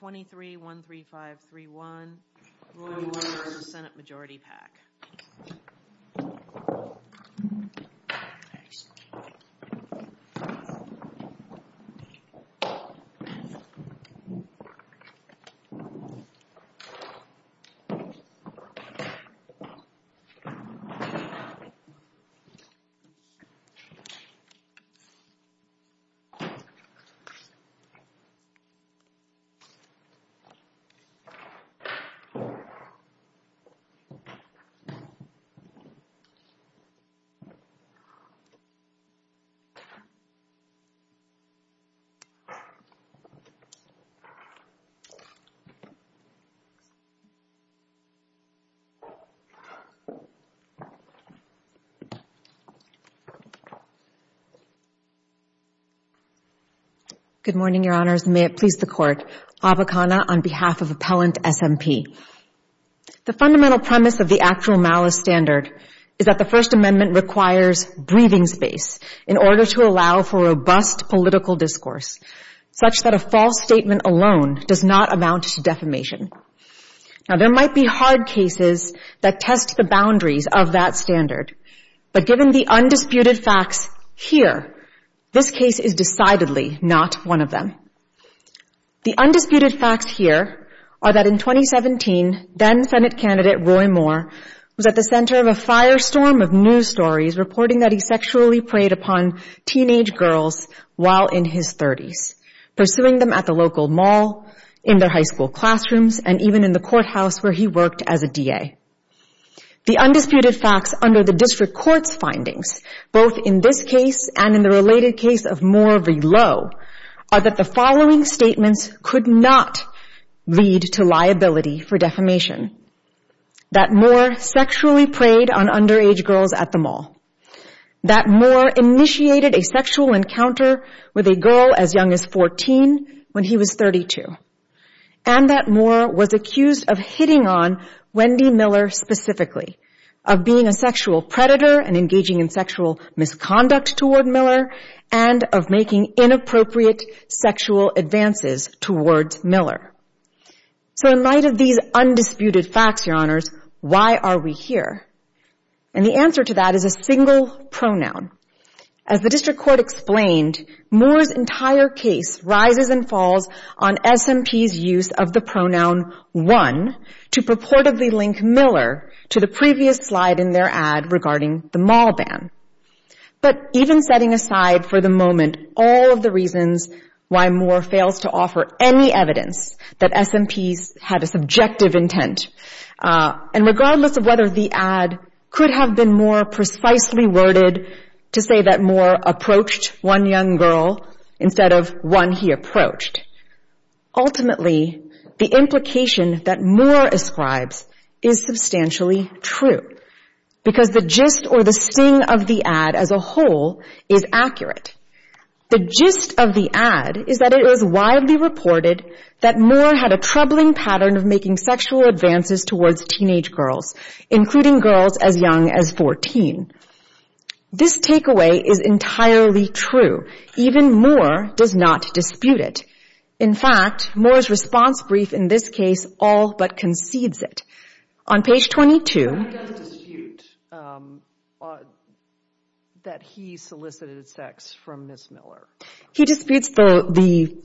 2313531 Roy Moore v. Senate Majority PAC Good morning, Your Honors, and may it please the Court, Abakana on behalf of Appellant S.M.P. The fundamental premise of the actual malice standard is that the First Amendment requires breathing space in order to allow for robust political discourse, such that a false statement alone does not amount to defamation. Now, there might be hard cases that test the boundaries of that standard, but given the undisputed facts here, this case is decidedly not one of them. The undisputed facts here are that in 2017, then-Senate candidate Roy Moore was at the center of a firestorm of news stories reporting that he sexually preyed upon teenage girls while in his 30s, pursuing them at the local mall, in their high school classrooms, and even in the courthouse where he worked as a DA. The undisputed facts under the District Court's findings, both in this case and in the related case of Moore v. Lowe, are that the following statements could not lead to liability for defamation. That Moore sexually preyed on underage girls at the mall. That Moore initiated a sexual encounter with a girl as young as 14 when he was 32. And that Moore was accused of hitting on Wendy Miller specifically, of being a sexual predator and engaging in sexual misconduct toward Miller, and of making inappropriate sexual advances towards Miller. So in light of these undisputed facts, Your Honors, why are we here? And the answer to that is a single pronoun. As the District Court explained, Moore's entire case rises and falls on SMP's use of the pronoun one to purportedly link Miller to the previous slide in their ad regarding the mall ban. But even setting aside for the moment all of the reasons why Moore fails to offer any evidence that SMPs had a subjective intent, and regardless of whether the ad could have been more precisely worded to say that Moore approached one young girl instead of one he approached. Ultimately, the implication that Moore ascribes is substantially true. Because the gist or the sting of the ad as a whole is accurate. The gist of the ad is that it was widely reported that Moore had a troubling pattern of making sexual advances towards teenage girls, including girls as young as 14. This takeaway is entirely true. Even Moore does not dispute it. In fact, Moore's response brief in this case all but concedes it. On page 22... Why does he dispute that he solicited sex from Ms. Miller? He disputes the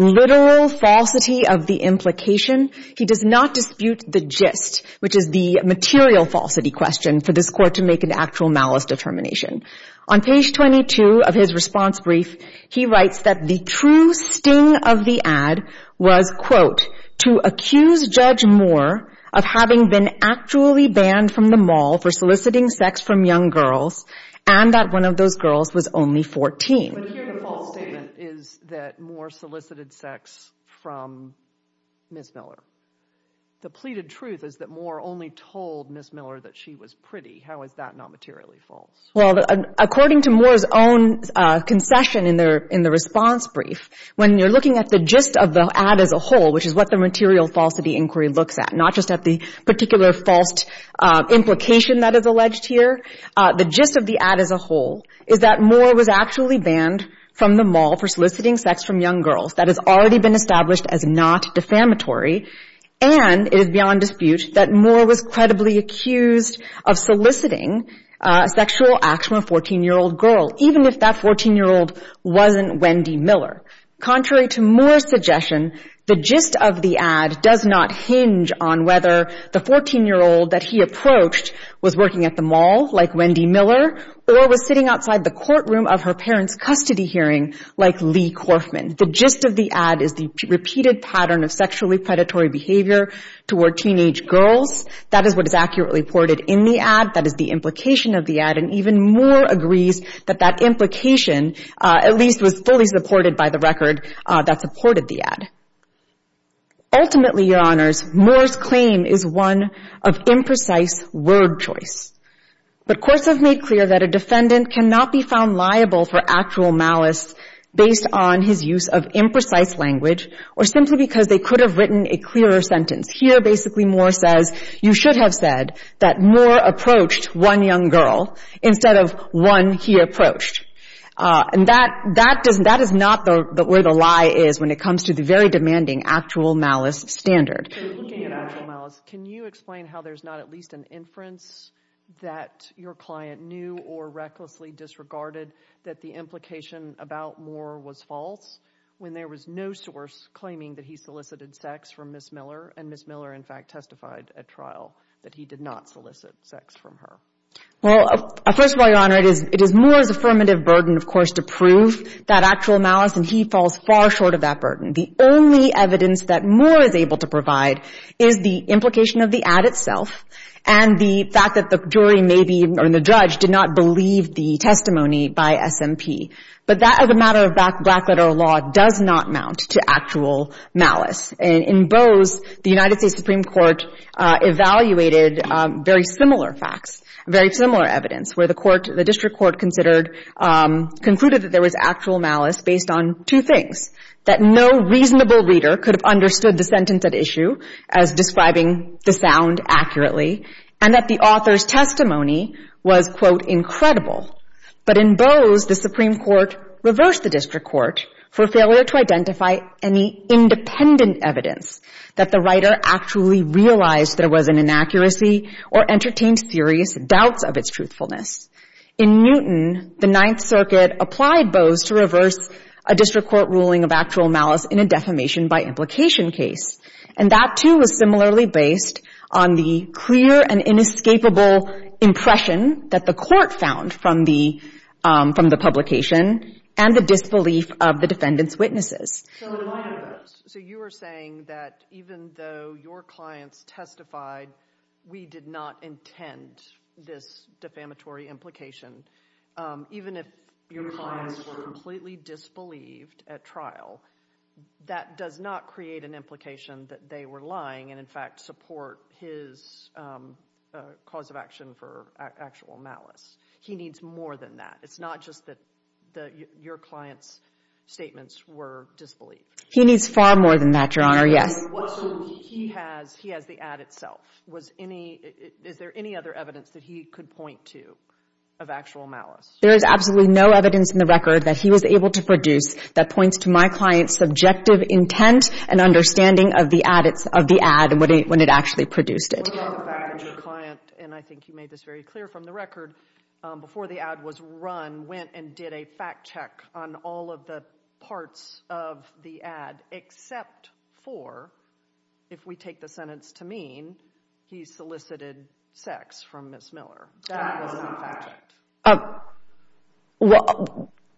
literal falsity of the implication. He does not dispute the gist, which is the material falsity question for this Court to make an actual malice determination. On page 22 of his response brief, he writes that the true sting of the ad was, quote, to accuse Judge Moore of having been actually banned from the mall for soliciting sex from young girls, and that one of those girls was only 14. But here the false statement is that Moore solicited sex from Ms. Miller. The pleaded truth is that Moore only told Ms. Miller that she was pretty. How is that not materially false? Well, according to Moore's own concession in the response brief, when you're looking at the gist of the ad as a whole, which is what the material falsity inquiry looks at, not just at the particular false implication that is alleged here, the gist of the ad as a whole is that Moore was actually banned from the mall for soliciting sex from young girls. That has already been established as not defamatory, and it is beyond dispute that Moore was credibly accused of soliciting a sexual act from a 14-year-old girl, even if that 14-year-old wasn't Wendy Miller. Contrary to Moore's suggestion, the gist of the ad does not hinge on whether the 14-year-old that he approached was working at the mall, like Wendy Miller, or was sitting outside the courtroom of her parents' custody hearing, like Lee Corfman. The gist of the ad is the repeated pattern of sexually predatory behavior toward teenage girls. That is what is accurately reported in the ad. That is the implication of the ad. And even Moore agrees that that implication at least was fully supported by the record that supported the ad. Ultimately, Your Honors, Moore's claim is one of imprecise word choice. But courts have made clear that a defendant cannot be found liable for actual malice based on his use of imprecise language or simply because they could have written a clearer sentence. Here, basically, Moore says, you should have said that Moore approached one young girl instead of one he approached. And that is not where the lie is when it comes to the very demanding actual malice standard. So looking at actual malice, can you explain how there's not at least an inference that your client knew or recklessly disregarded that the implication about Moore was false when there was no source claiming that he solicited sex from Ms. Miller and Ms. Miller, in fact, testified at trial that he did not solicit sex from her? Well, first of all, Your Honor, it is Moore's affirmative burden, of course, to prove that actual malice. And he falls far short of that burden. The only evidence that Moore is able to provide is the implication of the ad itself and the fact that the jury maybe or the judge did not believe the testimony by SMP. But that, as a matter of black-letter law, does not mount to actual malice. And in Bowes, the United States Supreme Court evaluated very similar facts, very similar evidence, where the district court concluded that there was actual malice based on two things, that no reasonable reader could have understood the sentence at issue as describing the sound accurately, and that the author's testimony was, quote, incredible. But in Bowes, the Supreme Court reversed the district court for failure to identify any independent evidence that the writer actually realized there was an inaccuracy or entertained serious doubts of its truthfulness. In Newton, the Ninth Circuit applied Bowes to reverse a district court ruling of actual malice in a defamation-by-implication case. And that, too, was similarly based on the clear and inescapable impression that the court found from the publication and the disbelief of the defendant's witnesses. So in light of this, so you are saying that even though your clients testified, we did not intend this defamatory implication, even if your clients were completely disbelieved at trial, that does not create an implication that they were lying and, in fact, support his cause of action for actual malice. He needs more than that. It's not just that your clients' statements were disbelief. He needs far more than that, Your Honor, yes. So he has the ad itself. Is there any other evidence that he could point to of actual malice? There is absolutely no evidence in the record that he was able to produce that points to my client's subjective intent and understanding of the ad and when it actually produced it. Your client, and I think you made this very clear from the record, before the ad was run, went and did a fact-check on all of the parts of the ad except for, if we take the sentence to mean, he solicited sex from Ms. Miller. That was not fact-checked.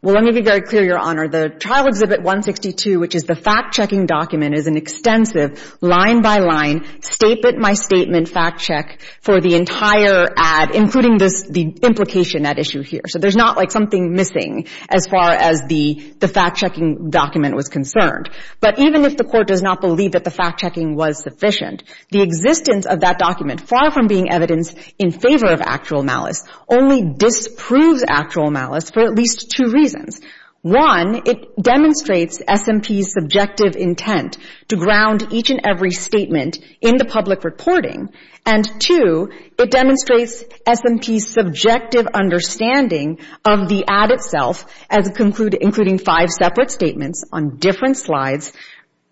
Well, let me be very clear, Your Honor. The Trial Exhibit 162, which is the fact-checking document, is an extensive, line-by-line, statement-by-statement fact-check for the entire ad, including the implication that issue here. So there's not something missing as far as the fact-checking document was concerned. But even if the Court does not believe that the fact-checking was sufficient, the existence of that document, far from being evidence in favor of actual malice, only disproves actual malice for at least two reasons. One, it demonstrates S&P's subjective intent to ground each and every statement in the public reporting. And two, it demonstrates S&P's subjective understanding of the ad itself, including five separate statements on different slides,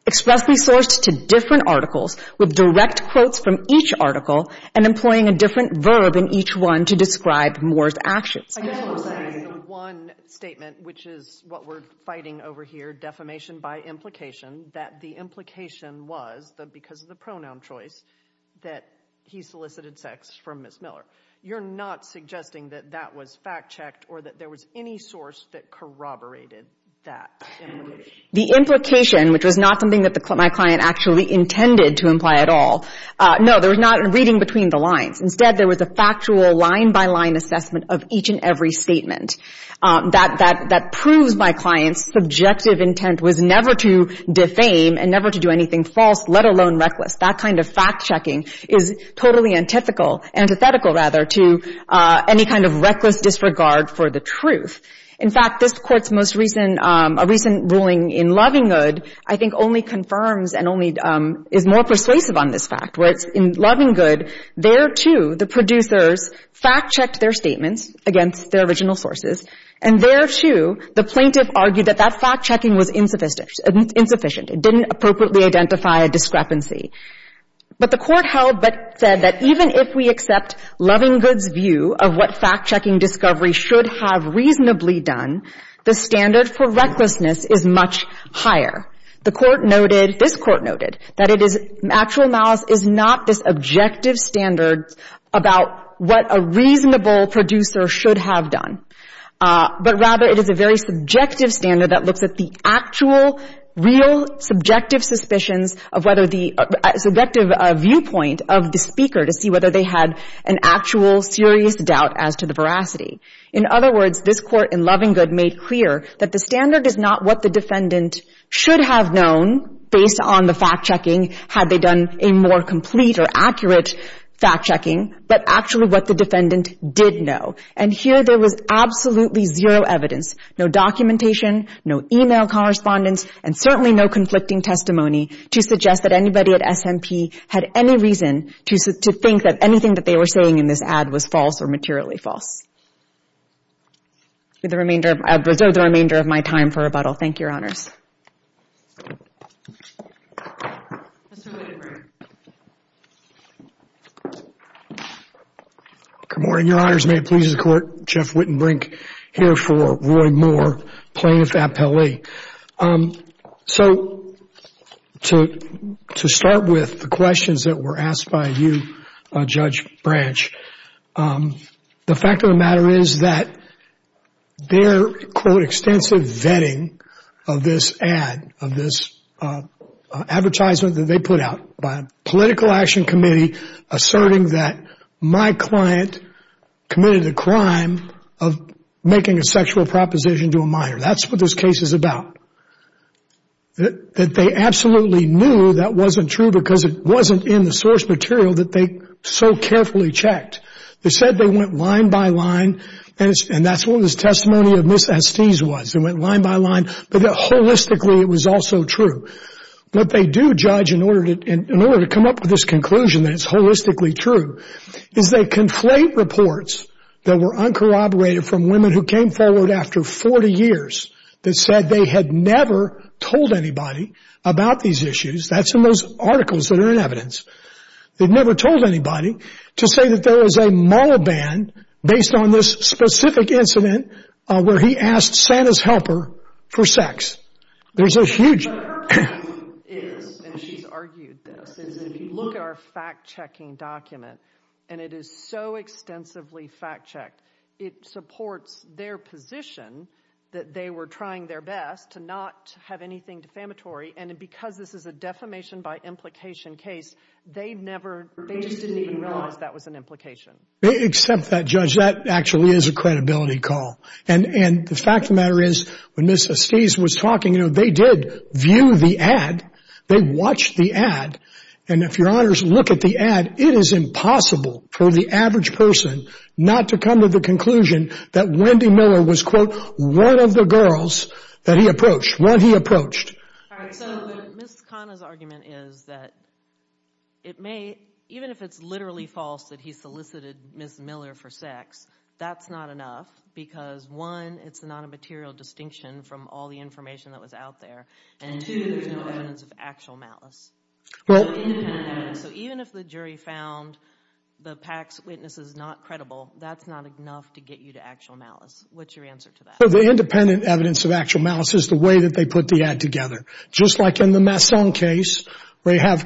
expressly sourced to different articles, with direct quotes from each article, and employing a different verb in each one to describe Moore's actions. I guess the one statement, which is what we're fighting over here, defamation by implication, that the implication was, because of the pronoun choice, that he solicited sex from Ms. Miller. You're not suggesting that that was fact-checked, or that there was any source that corroborated that implication? The implication, which was not something that my client actually intended to imply at all, no, there was not a reading between the lines. Instead, there was a factual line-by-line assessment of each and every statement. That proves my client's subjective intent was never to defame and never to do anything false, let alone reckless. That kind of fact-checking is totally antithetical to any kind of reckless disregard for the truth. In fact, this Court's most recent ruling in Lovingood, I think, only confirms and is more persuasive on this fact. In Lovingood, there, too, the producers fact-checked their statements against their original sources, and there, too, the plaintiff argued that that fact-checking was insufficient. It didn't appropriately identify a discrepancy. But the Court held, but said that even if we accept Lovingood's view of what fact-checking discovery should have reasonably done, the standard for recklessness is much higher. The Court noted, this Court noted, that it is, actual malice is not this objective standard about what a reasonable producer should have done, but rather it is a very subjective standard that looks at the actual, real, subjective suspicions of whether the, subjective viewpoint of the speaker to see whether they had an actual serious doubt as to the veracity. In other words, this Court in Lovingood made clear that the standard is not what the defendant should have known based on the fact-checking had they done a more complete or accurate fact-checking, but actually what the defendant did know. And here, there was absolutely zero evidence, no documentation, no e-mail correspondence, and certainly no conflicting testimony to suggest that anybody at SMP had any reason to think that anything that they were saying in this ad was false or materially false. With the remainder of my time for rebuttal, thank you, Your Honors. Mr. Wittenbrink. Good morning, Your Honors. May it please the Court, Jeff Wittenbrink here for Roy Moore, plaintiff at Pele. So, to start with the questions that were asked by you, Judge Branch, the fact of the matter is that the plaintiff did not know that Ms. Estes had a sexual proposition to a minor. That's what this case is about. That they absolutely knew that wasn't true because it wasn't in the source material that they so carefully checked. They said they went line by line, and that's what this testimony of Ms. Estes was. They went line by line, but that holistically it was also true. What they do, Judge, in order to come up with this conclusion that it's holistically true, is they conflate reports that were uncorroborated from women who came forward after 40 years that said they had never told anybody about these issues. That's in those articles that are in evidence. They'd never told anybody to say that there was a moral ban based on this specific incident where he asked Santa's helper for sex. There's a huge... But her point is, and she's argued this, is if you look at our fact-checking document, and it is so extensively fact-checked, it supports their position that they were trying their best to not have anything defamatory, and because this is a defamation by implication case, they just didn't even realize that was an implication. Except that, Judge, that actually is a credibility call. And the fact of the matter is, when Ms. Estes was talking, you know, they did view the ad. They watched the ad, and if your honors look at the ad, it is impossible for the average person not to come to the conclusion that Wendy Miller was, quote, one of the girls that he approached, one he approached. All right, so Ms. Khanna's argument is that it may, even if it's literally false that he elicited Ms. Miller for sex, that's not enough because, one, it's not a material distinction from all the information that was out there, and two, there's no evidence of actual malice. Well... Independent evidence. So even if the jury found the PAC's witnesses not credible, that's not enough to get you to actual malice. What's your answer to that? Well, the independent evidence of actual malice is the way that they put the ad together. Just like in the Masson case, where you have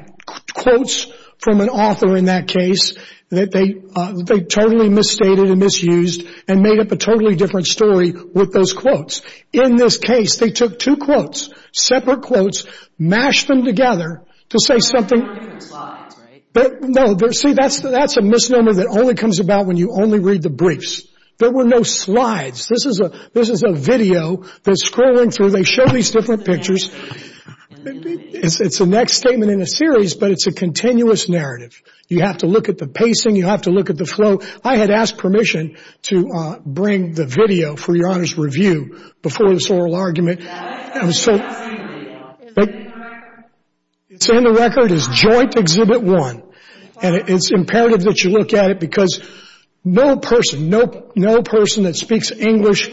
quotes from an author in that case that they totally misstated and misused and made up a totally different story with those quotes. In this case, they took two quotes, separate quotes, mashed them together to say something... There were no different slides, right? No, see, that's a misnomer that only comes about when you only read the briefs. There were no slides. This is a video that's scrolling through. They show these different pictures. It's the next statement in a series, but it's a continuous narrative. You have to look at the pacing. You have to look at the flow. I had asked permission to bring the video for Your Honor's review before this oral argument. It's in the record as Joint Exhibit 1, and it's imperative that you look at it because no person, no person that speaks English...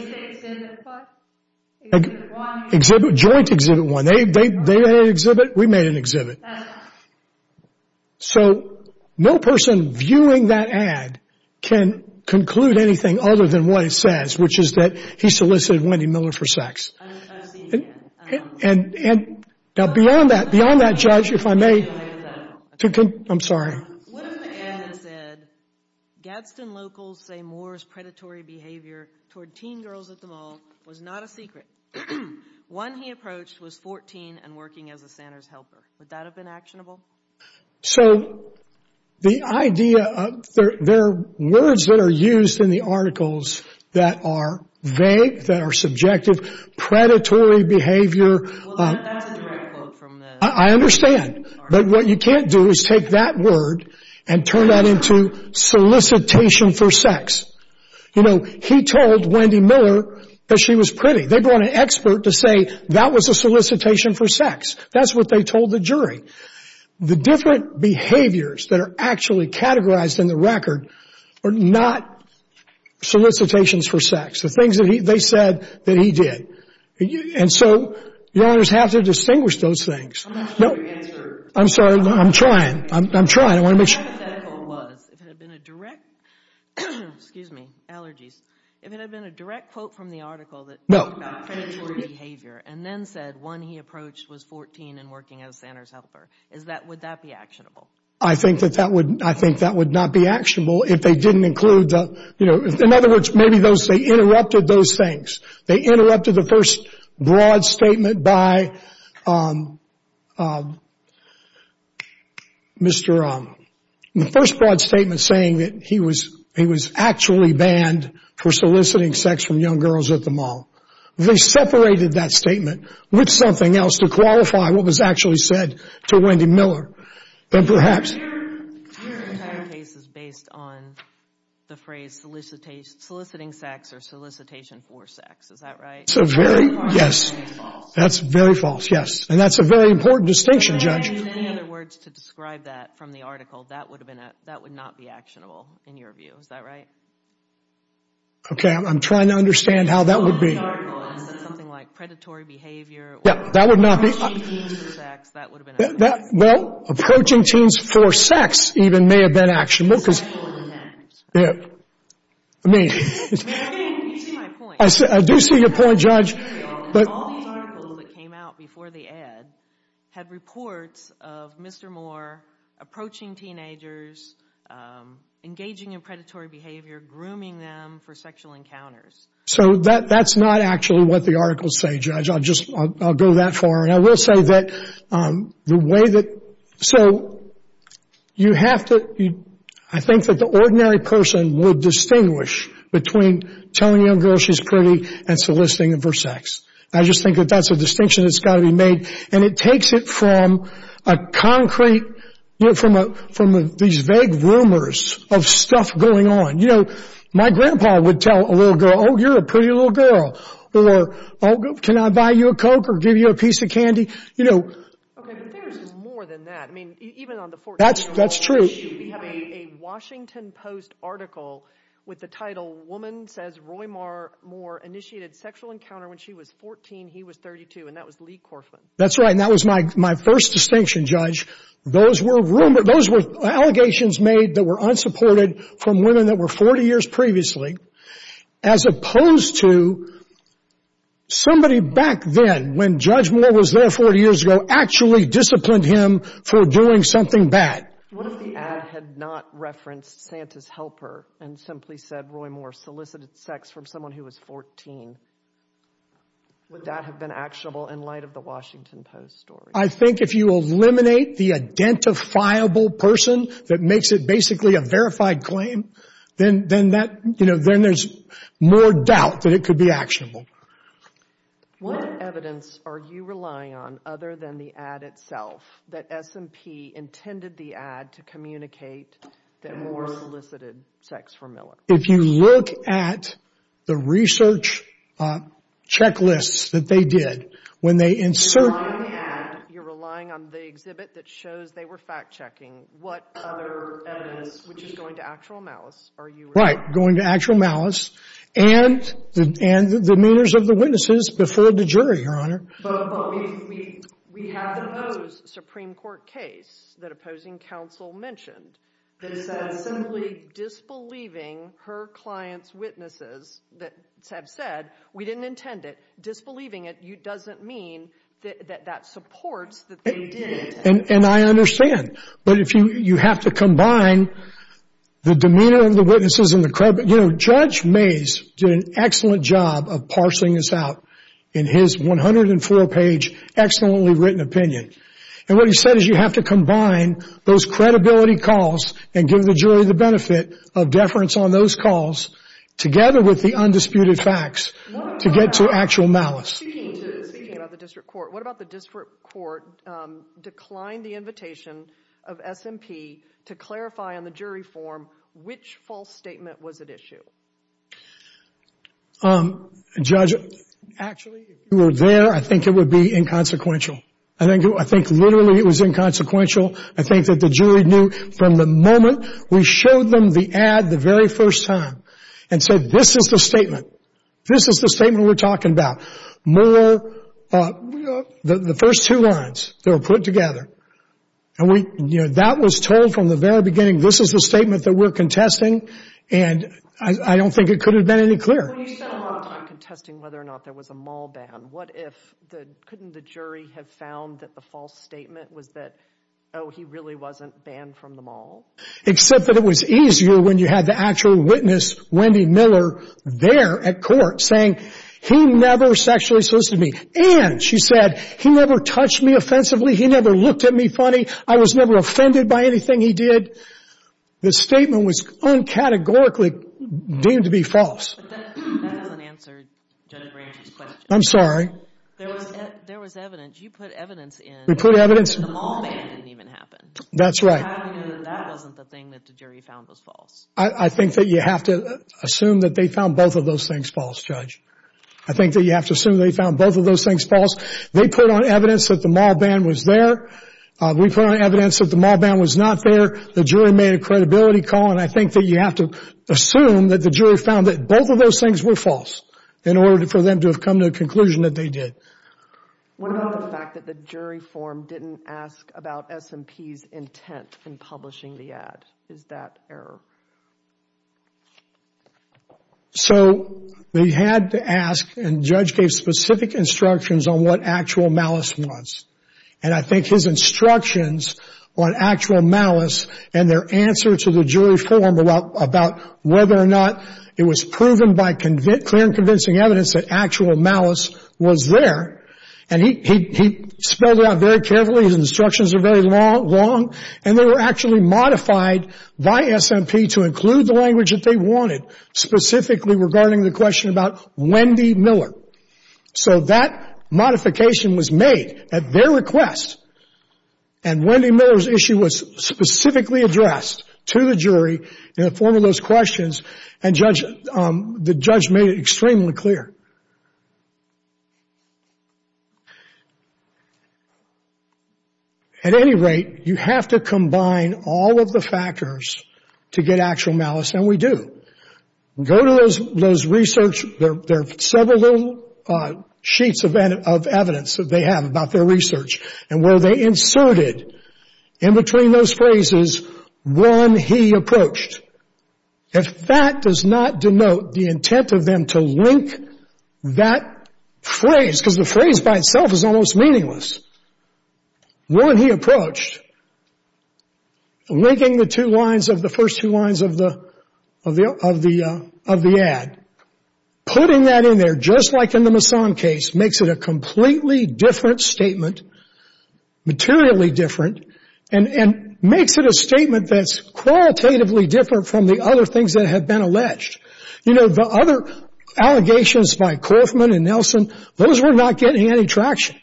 Joint Exhibit 1. They had an exhibit. We made an exhibit. So no person viewing that ad can conclude anything other than what it says, which is that he solicited Wendy Miller for sex. Now, beyond that, beyond that, Judge, if I may... I'm sorry. One of the ads said, Gadsden locals say Moore's predatory behavior toward teen girls at the mall was not a secret. One he approached was 14 and working as a Santa's helper. Would that have been actionable? So the idea of... There are words that are used in the articles that are vague, that are subjective. Predatory behavior... I understand, but what you can't do is take that word and turn that into solicitation for sex. You know, he told Wendy Miller that she was pretty. They brought an expert to say that was a solicitation for sex. That's what they told the jury. The different behaviors that are actually categorized in the record are not solicitations for sex. The things that they said that he did. And so Your Honors have to distinguish those things. I'm sorry. I'm trying. I'm trying. If it had been a direct... Excuse me. Allergies. If it had been a direct quote from the article that talked about predatory behavior and then said one he approached was 14 and working as Santa's helper, would that be actionable? I think that would not be actionable if they didn't include... In other words, maybe they interrupted those things. They interrupted the first broad statement by um, um, Mr. Um, the first broad statement saying that he was, he was actually banned for soliciting sex from young girls at the mall. They separated that statement with something else to qualify what was actually said to Wendy Miller. Then perhaps... Your entire case is based on the phrase solicitation, soliciting sex or solicitation for sex. Is that right? It's a very... That's very false. Yes. And that's a very important distinction, Judge. In other words, to describe that from the article, that would have been, that would not be actionable in your view. Is that right? Okay. I'm trying to understand how that would be. Something like predatory behavior. Yeah. That would not be... Well, approaching teens for sex even may have been actionable because... I do see your point, Judge. But... All the articles that came out before the ad had reports of Mr. Moore approaching teenagers, engaging in predatory behavior, grooming them for sexual encounters. So that, that's not actually what the articles say, Judge. I'll just, I'll go that far. And I will say that, um, the way that... So you have to, I think that the ordinary person would distinguish between telling a girl she's pretty and soliciting her for sex. I just think that that's a distinction that's got to be made. And it takes it from a concrete, you know, from a, from these vague rumors of stuff going on. You know, my grandpa would tell a little girl, oh, you're a pretty little girl. Or, oh, can I buy you a Coke or give you a piece of candy? You know... But there's more than that. I mean, even on the 14th of August... That's true. We have a Washington Post article with the title, Woman Says Roy Moore Initiated Sexual Encounter When She Was 14, He Was 32. And that was Lee Corfman. That's right. And that was my, my first distinction, Judge. Those were rumors, those were allegations made that were unsupported from women that were 40 years previously. As opposed to somebody back then, when Judge Moore was there 40 years ago, actually disciplined him for doing something bad. What if the ad had not referenced Santa's helper and simply said Roy Moore solicited sex from someone who was 14? Would that have been actionable in light of the Washington Post story? I think if you eliminate the identifiable person that makes it basically a verified claim, then, then that, you know, then there's more doubt that it could be actionable. What evidence are you relying on other than the ad itself that S&P intended the ad to communicate that Moore solicited sex from Miller? If you look at the research checklists that they did, when they insert... You're relying on the ad, you're relying on the exhibit that shows they were fact-checking. What other evidence, which is going to actual malice, are you... Right. Going to actual malice and, and the demeanors of the witnesses before the jury, Your Honor. But, but we, we, we have the Bose Supreme Court case that opposing counsel mentioned that said simply disbelieving her client's witnesses, that said, we didn't intend it. Disbelieving it doesn't mean that that supports that they did intend it. And I understand. But if you, you have to combine the demeanor of the witnesses and the credibility... You know, Judge Mays did an excellent job of parsing this out. In his 104 page, excellently written opinion. And what he said is you have to combine those credibility calls and give the jury the benefit of deference on those calls together with the undisputed facts to get to actual malice. Speaking to, speaking about the district court, what about the district court declined the invitation of S&P to clarify on the jury form which false statement was at issue? Um, Judge, actually, if you were there, I think it would be inconsequential. I think, I think literally it was inconsequential. I think that the jury knew from the moment we showed them the ad the very first time and said, this is the statement. This is the statement we're talking about. More, the, the first two lines, they were put together. And we, you know, that was told from the very beginning. This is the statement that we're contesting. And I, I don't think it could have been any clearer. Well, you spent a lot of time contesting whether or not there was a mall ban. What if the, couldn't the jury have found that the false statement was that, oh, he really wasn't banned from the mall? Except that it was easier when you had the actual witness, Wendy Miller, there at court saying, he never sexually solicited me. And she said, he never touched me offensively. He never looked at me funny. I was never offended by anything he did. The statement was uncategorically deemed to be false. But that, that doesn't answer Judge Ramsey's question. I'm sorry. There was, there was evidence. You put evidence in. We put evidence. The mall ban didn't even happen. That's right. How do we know that that wasn't the thing that the jury found was false? I, I think that you have to assume that they found both of those things false, Judge. I think that you have to assume they found both of those things false. They put on evidence that the mall ban was there. We put on evidence that the mall ban was not there. The jury made a credibility call. And I think that you have to assume that the jury found that both of those things were false in order for them to have come to a conclusion that they did. What about the fact that the jury form didn't ask about S&P's intent in publishing the ad? Is that error? So they had to ask, and Judge gave specific instructions on what actual malice was. And I think his instructions on actual malice and their answer to the jury form about whether or not it was proven by clear and convincing evidence that actual malice was there. And he, he, he spelled it out very carefully. His instructions are very long and they were actually modified by S&P to include the language that they wanted specifically regarding the question about Wendy Miller. So that modification was made at their request. And Wendy Miller's issue was specifically addressed to the jury in the form of those questions and Judge, the Judge made it extremely clear. At any rate, you have to combine all of the factors to get actual malice, and we do. Go to those, those research, there are several little sheets of evidence that they have about their research and where they inserted in between those phrases, when he approached. If that does not denote the intent of them to link that phrase, because the phrase by itself is almost meaningless. When he approached, linking the two lines of the first two lines of the, of the, of the, of the ad, putting that in there, just like in the Mason case, makes it a completely different statement, materially different, and, and makes it a statement that's qualitatively different from the other things that have been alleged. You know, the other allegations by Kaufman and Nelson, those were not getting any traction.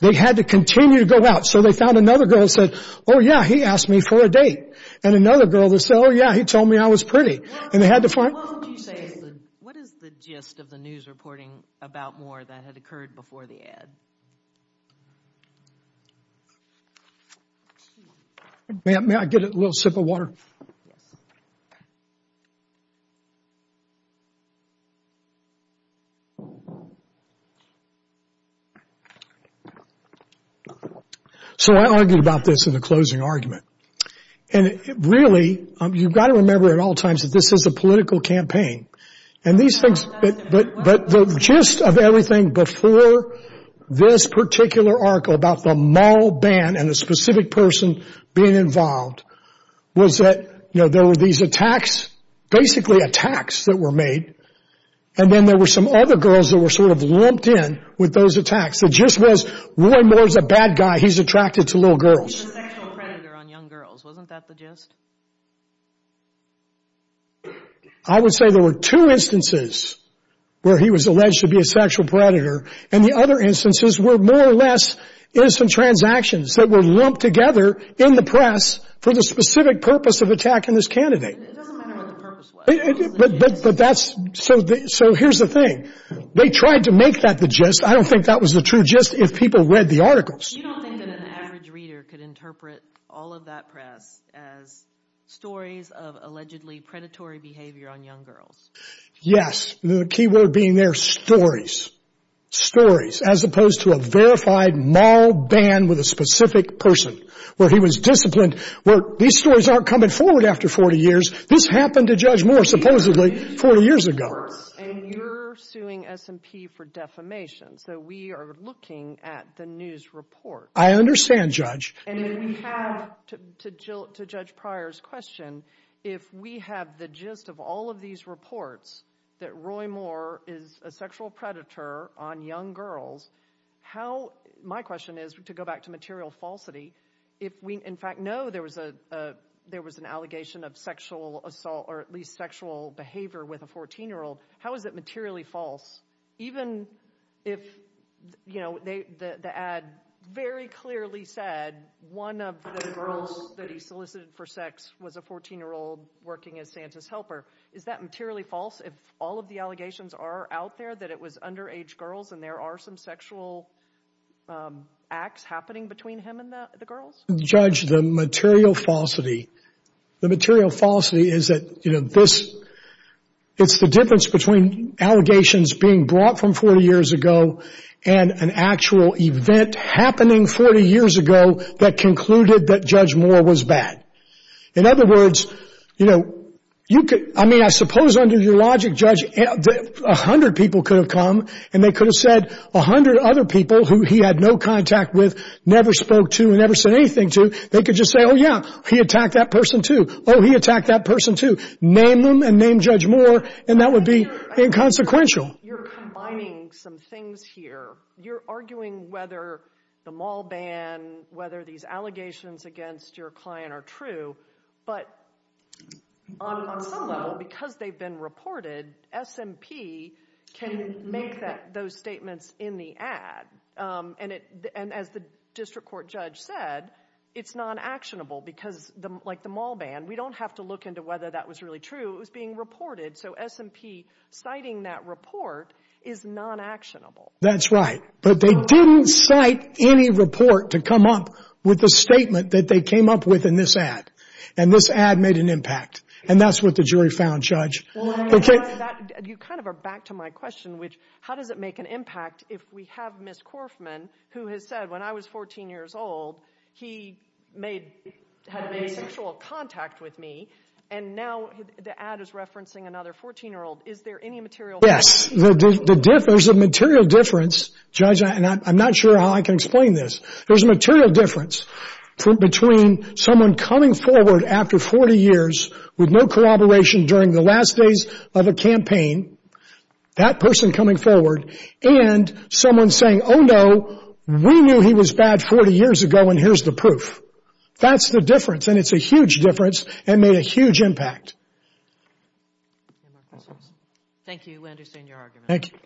They had to continue to go out. So they found another girl and said, oh yeah, he asked me for a date. And another girl would say, oh yeah, he told me I was pretty. And they had to find... What would you say is the, what is the gist of the news reporting about Moore that had occurred before the ad? May I get a little sip of water? So I argued about this in the closing argument. And really, you've got to remember at all times that this is a political campaign. And these things, but, but the gist of everything before this particular article about the mall ban and the specific person being involved was that, you know, there were these attacks, basically attacks that were made. And then there were some other girls that were sort of lumped in with those attacks. The gist was Roy Moore's a bad guy. He's attracted to little girls. I would say there were two instances where he was alleged to be a sexual predator. And the other instances were more or less innocent transactions that were lumped together in the press for the specific purpose of attacking this candidate. But that's so, so here's the thing. They tried to make that the gist. I don't think that was the true gist if people read the articles. Yes. The key word being their stories, stories, as opposed to a verified mall ban with a specific person where he was disciplined, where these stories aren't coming forward after 40 years. This happened to judge more supposedly 40 years ago. For defamation. So we are looking at the news report. I understand, Judge. To judge prior's question, if we have the gist of all of these reports that Roy Moore is a sexual predator on young girls, how my question is to go back to material falsity. If we in fact know there was a there was an allegation of sexual assault or at least sexual behavior with a 14-year-old, how is it materially false? Even if, you know, the ad very clearly said one of the girls that he solicited for sex was a 14-year-old working as Santa's helper. Is that materially false? If all of the allegations are out there that it was underage girls and there are some sexual acts happening between him and the girls? Judge, the material falsity. The material falsity is that, you know, this it's the difference between allegations being brought from 40 years ago and an actual event happening 40 years ago that concluded that Judge Moore was bad. In other words, you know, you could I mean, I suppose under your logic, Judge, 100 people could have come and they could have said 100 other people who he had no contact with, never spoke to, never said anything to. They could just say, oh, yeah, he attacked that person, too. Oh, he attacked that person, too. Name them and name Judge Moore. And that would be inconsequential. You're combining some things here. You're arguing whether the mall ban, whether these allegations against your client are true, but on some level, because they've been reported, SMP can make that those statements in the ad. And as the district court judge said, it's non-actionable because like the mall ban, we don't have to look into whether that was really true. It was being reported. So SMP citing that report is non-actionable. That's right. But they didn't cite any report to come up with the statement that they came up with in this ad. And this ad made an impact. And that's what the jury found, Judge. You kind of are back to my question, which how does it make an impact if we have Ms. Korfman, who has said, when I was 14 years old, he had made sexual contact with me. And now the ad is referencing another 14-year-old. Is there any material difference? Yes. There's a material difference, Judge, and I'm not sure how I can explain this. There's a material difference between someone coming forward after 40 years with no corroboration during the last days of a campaign, that person coming forward, and someone saying, oh, no, we knew he was bad 40 years ago, and here's the proof. That's the difference. And it's a huge difference and made a huge impact. Thank you. We understand your argument. Thank you.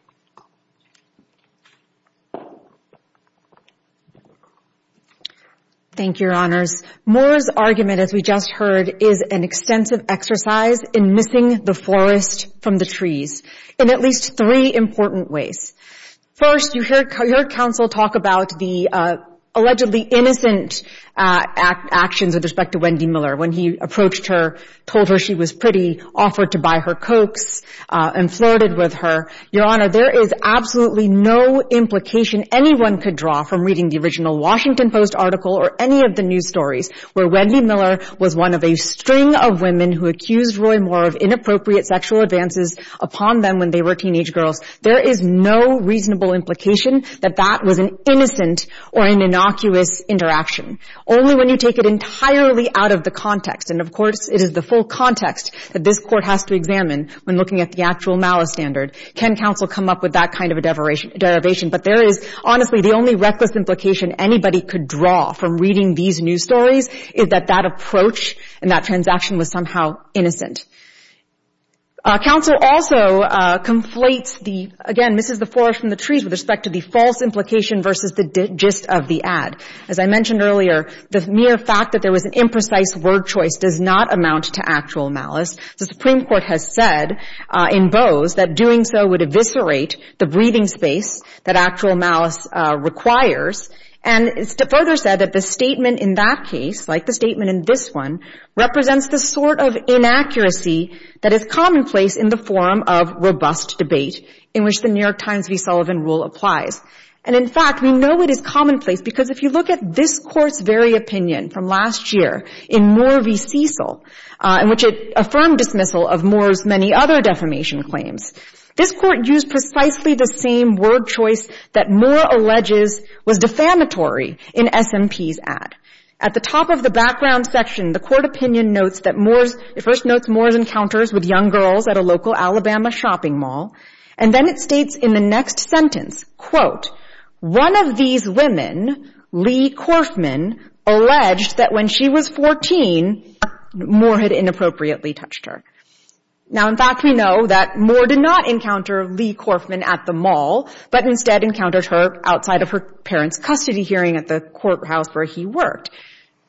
Thank you, Your Honors. Moore's argument, as we just heard, is an extensive exercise in missing the forest from the trees in at least three important ways. First, you hear counsel talk about the allegedly innocent actions with respect to Wendy Miller when he approached her, told her she was pretty, offered to buy her Cokes, and flirted with her. Your Honor, there is absolutely no implication anyone could draw from reading the original Washington Post article or any of the news stories where Wendy Miller was one of a string of women who accused Roy Moore of inappropriate sexual advances upon them when they were teenage girls. There is no reasonable implication that that was an innocent or an innocuous interaction, only when you take it entirely out of the context. And, of course, it is the full context that this Court has to examine when looking at the actual malice standard. Can counsel come up with that kind of a derivation? But there is, honestly, the only reckless implication anybody could draw from reading these news stories is that that approach and that transaction was somehow innocent. Counsel also conflates the, again, misses the floor from the trees with respect to the false implication versus the gist of the ad. As I mentioned earlier, the mere fact that there was an imprecise word choice does not amount to actual malice. The Supreme Court has said in Bose that doing so would eviscerate the breathing space that actual malice requires. And it's further said that the statement in that case, like the statement in this one, represents the sort of inaccuracy that is commonplace in the form of robust debate in which the New York Times v. Sullivan rule applies. And, in fact, we know it is commonplace because if you look at this Court's very opinion from last year in Moore v. Cecil, in which it affirmed dismissal of Moore's many other defamation claims, this Court used precisely the same word choice that Moore alleges was defamatory in SMP's ad. At the top of the background section, the Court opinion notes that Moore's, it first notes Moore's encounters with young girls at a local Alabama shopping mall. And then it states in the next sentence, quote, one of these women, Lee Corfman, alleged that when she was 14, Moore had inappropriately touched her. Now, in fact, we know that Moore did not encounter Lee Corfman at the mall, but instead outside of her parents' custody hearing at the courthouse where he worked.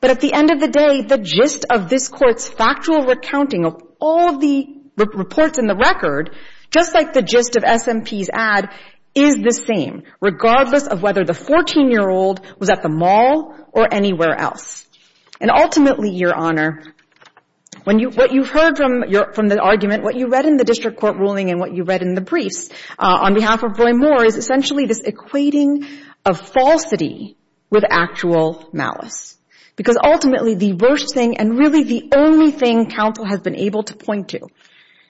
But at the end of the day, the gist of this Court's factual recounting of all the reports in the record, just like the gist of SMP's ad, is the same, regardless of whether the 14-year-old was at the mall or anywhere else. And ultimately, Your Honor, what you heard from the argument, what you read in the district court ruling, and what you read in the briefs on behalf of Roy Moore is essentially this equating of falsity with actual malice. Because ultimately, the worst thing, and really the only thing counsel has been able to point to,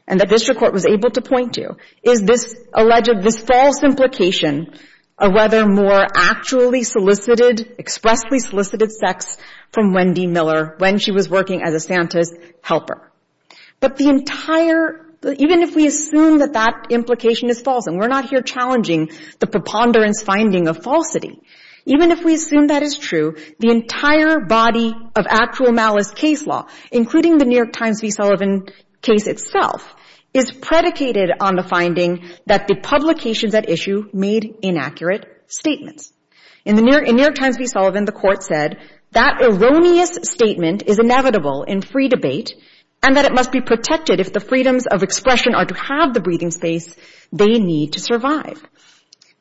and the district court was able to point to, is this alleged, this false implication of whether Moore actually solicited, expressly solicited sex from Wendy Miller when she was working as a Santa's helper. But the entire — even if we assume that that implication is false, and we're not here challenging the preponderance finding of falsity, even if we assume that is true, the entire body of actual malice case law, including the New York Times v. Sullivan case itself, is predicated on the finding that the publications at issue made inaccurate statements. In New York Times v. Sullivan, the Court said, that erroneous statement is inevitable in free debate, and that it must be protected if the freedoms of expression are to have the breathing space they need to survive.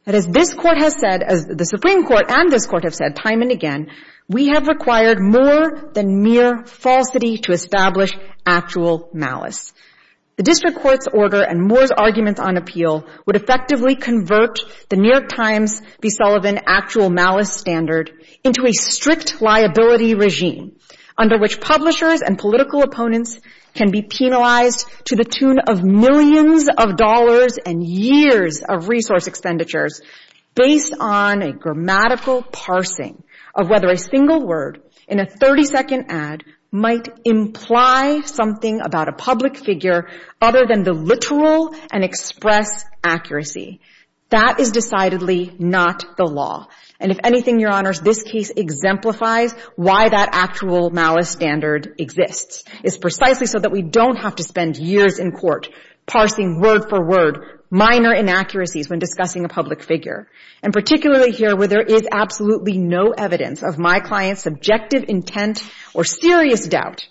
But as this Court has said, as the Supreme Court and this Court have said time and again, we have required more than mere falsity to establish actual malice. The district court's order and Moore's argument on appeal would effectively convert the New York Times v. Sullivan actual malice standard into a strict liability regime, under which publishers and political opponents can be penalized to the tune of millions of dollars and years of resource expenditures based on a grammatical parsing of whether a single word in a 30-second ad might imply something about a public figure other than the literal and express accuracy. That is decidedly not the law. And if anything, Your Honors, this case exemplifies why that actual malice standard exists. It's precisely so that we don't have to spend years in court parsing word for word minor inaccuracies when discussing a public figure. And particularly here, where there is absolutely no evidence of my client's subjective intent or serious doubt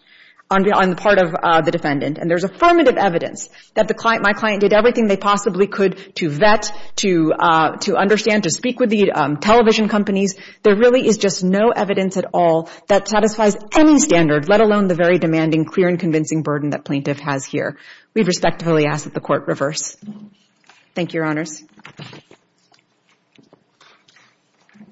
on the part of the defendant. And there's affirmative evidence that my client did everything they possibly could to vet, to understand, to speak with the television companies. There really is just no evidence at all that satisfies any standard, let alone the very demanding, clear, and convincing burden that plaintiff has here. We respectfully ask that the Court reverse. Thank you, Your Honors.